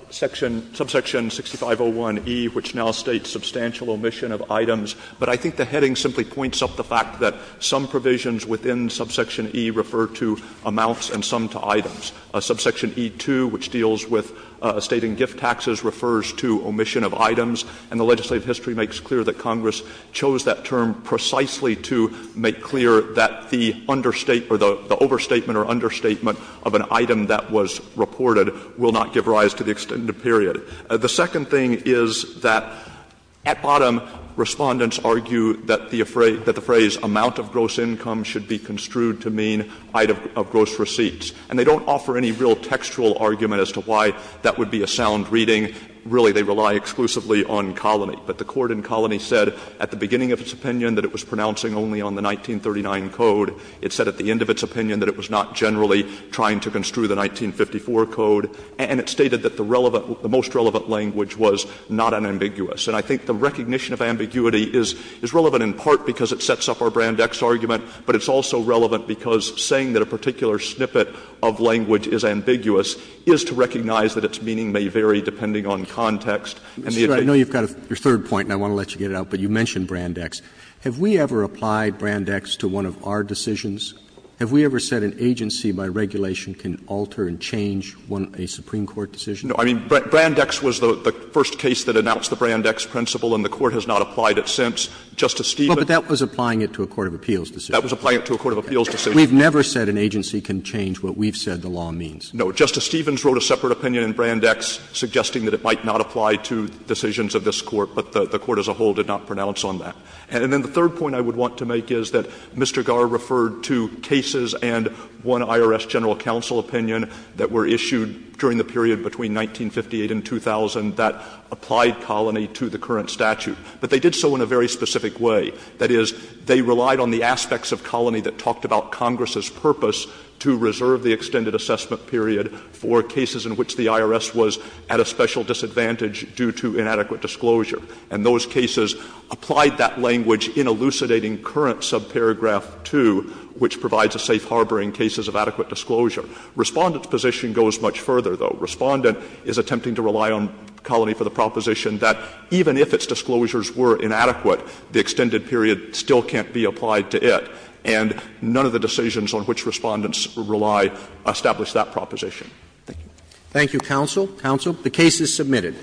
section — subsection 6501e, which now states substantial omission of items. But I think the heading simply points up the fact that some provisions within subsection E refer to amounts and some to items. Subsection E2, which deals with estate and gift taxes, refers to omission of items. And the legislative history makes clear that Congress chose that term precisely to make clear that the understate — or the overstatement or understatement of an item that was reported will not give rise to the extended period. The second thing is that at bottom, Respondents argue that the phrase amount of gross income should be construed to mean height of gross receipts. And they don't offer any real textual argument as to why that would be a sound reading. Really, they rely exclusively on Colony. But the court in Colony said at the beginning of its opinion that it was pronouncing only on the 1939 code. It said at the end of its opinion that it was not generally trying to construe the 1954 code. And it stated that the relevant — the most relevant language was not unambiguous. And I think the recognition of ambiguity is relevant in part because it sets up our Brandex argument, but it's also relevant because saying that a particular snippet of language is ambiguous is to recognize that its meaning may vary depending on context and the occasion. Roberts, I know you've got your third point, and I want to let you get it out, but you mentioned Brandex. Have we ever applied Brandex to one of our decisions? Have we ever said an agency by regulation can alter and change a Supreme Court decision? No. I mean, Brandex was the first case that announced the Brandex principle, and the Court has not applied it since. Justice Stevens — But that was applying it to a court of appeals decision. That was applying it to a court of appeals decision. We've never said an agency can change what we've said the law means. No. Justice Stevens wrote a separate opinion in Brandex suggesting that it might not apply to decisions of this Court, but the Court as a whole did not pronounce on that. And then the third point I would want to make is that Mr. Garre referred to cases and one IRS general counsel opinion that were issued during the period between 1958 and 2000 that applied Colony to the current statute, but they did so in a very specific way. That is, they relied on the aspects of Colony that talked about Congress's purpose to reserve the extended assessment period for cases in which the IRS was at a special disadvantage due to inadequate disclosure. And those cases applied that language in elucidating current subparagraph 2, which provides a safe harbor in cases of adequate disclosure. Respondent's position goes much further, though. Respondent is attempting to rely on Colony for the proposition that even if its disclosures were inadequate, the extended period still can't be applied to it. And none of the decisions on which Respondents rely establish that proposition. Roberts. Thank you. Roberts. Thank you, counsel. Counsel, the case is submitted.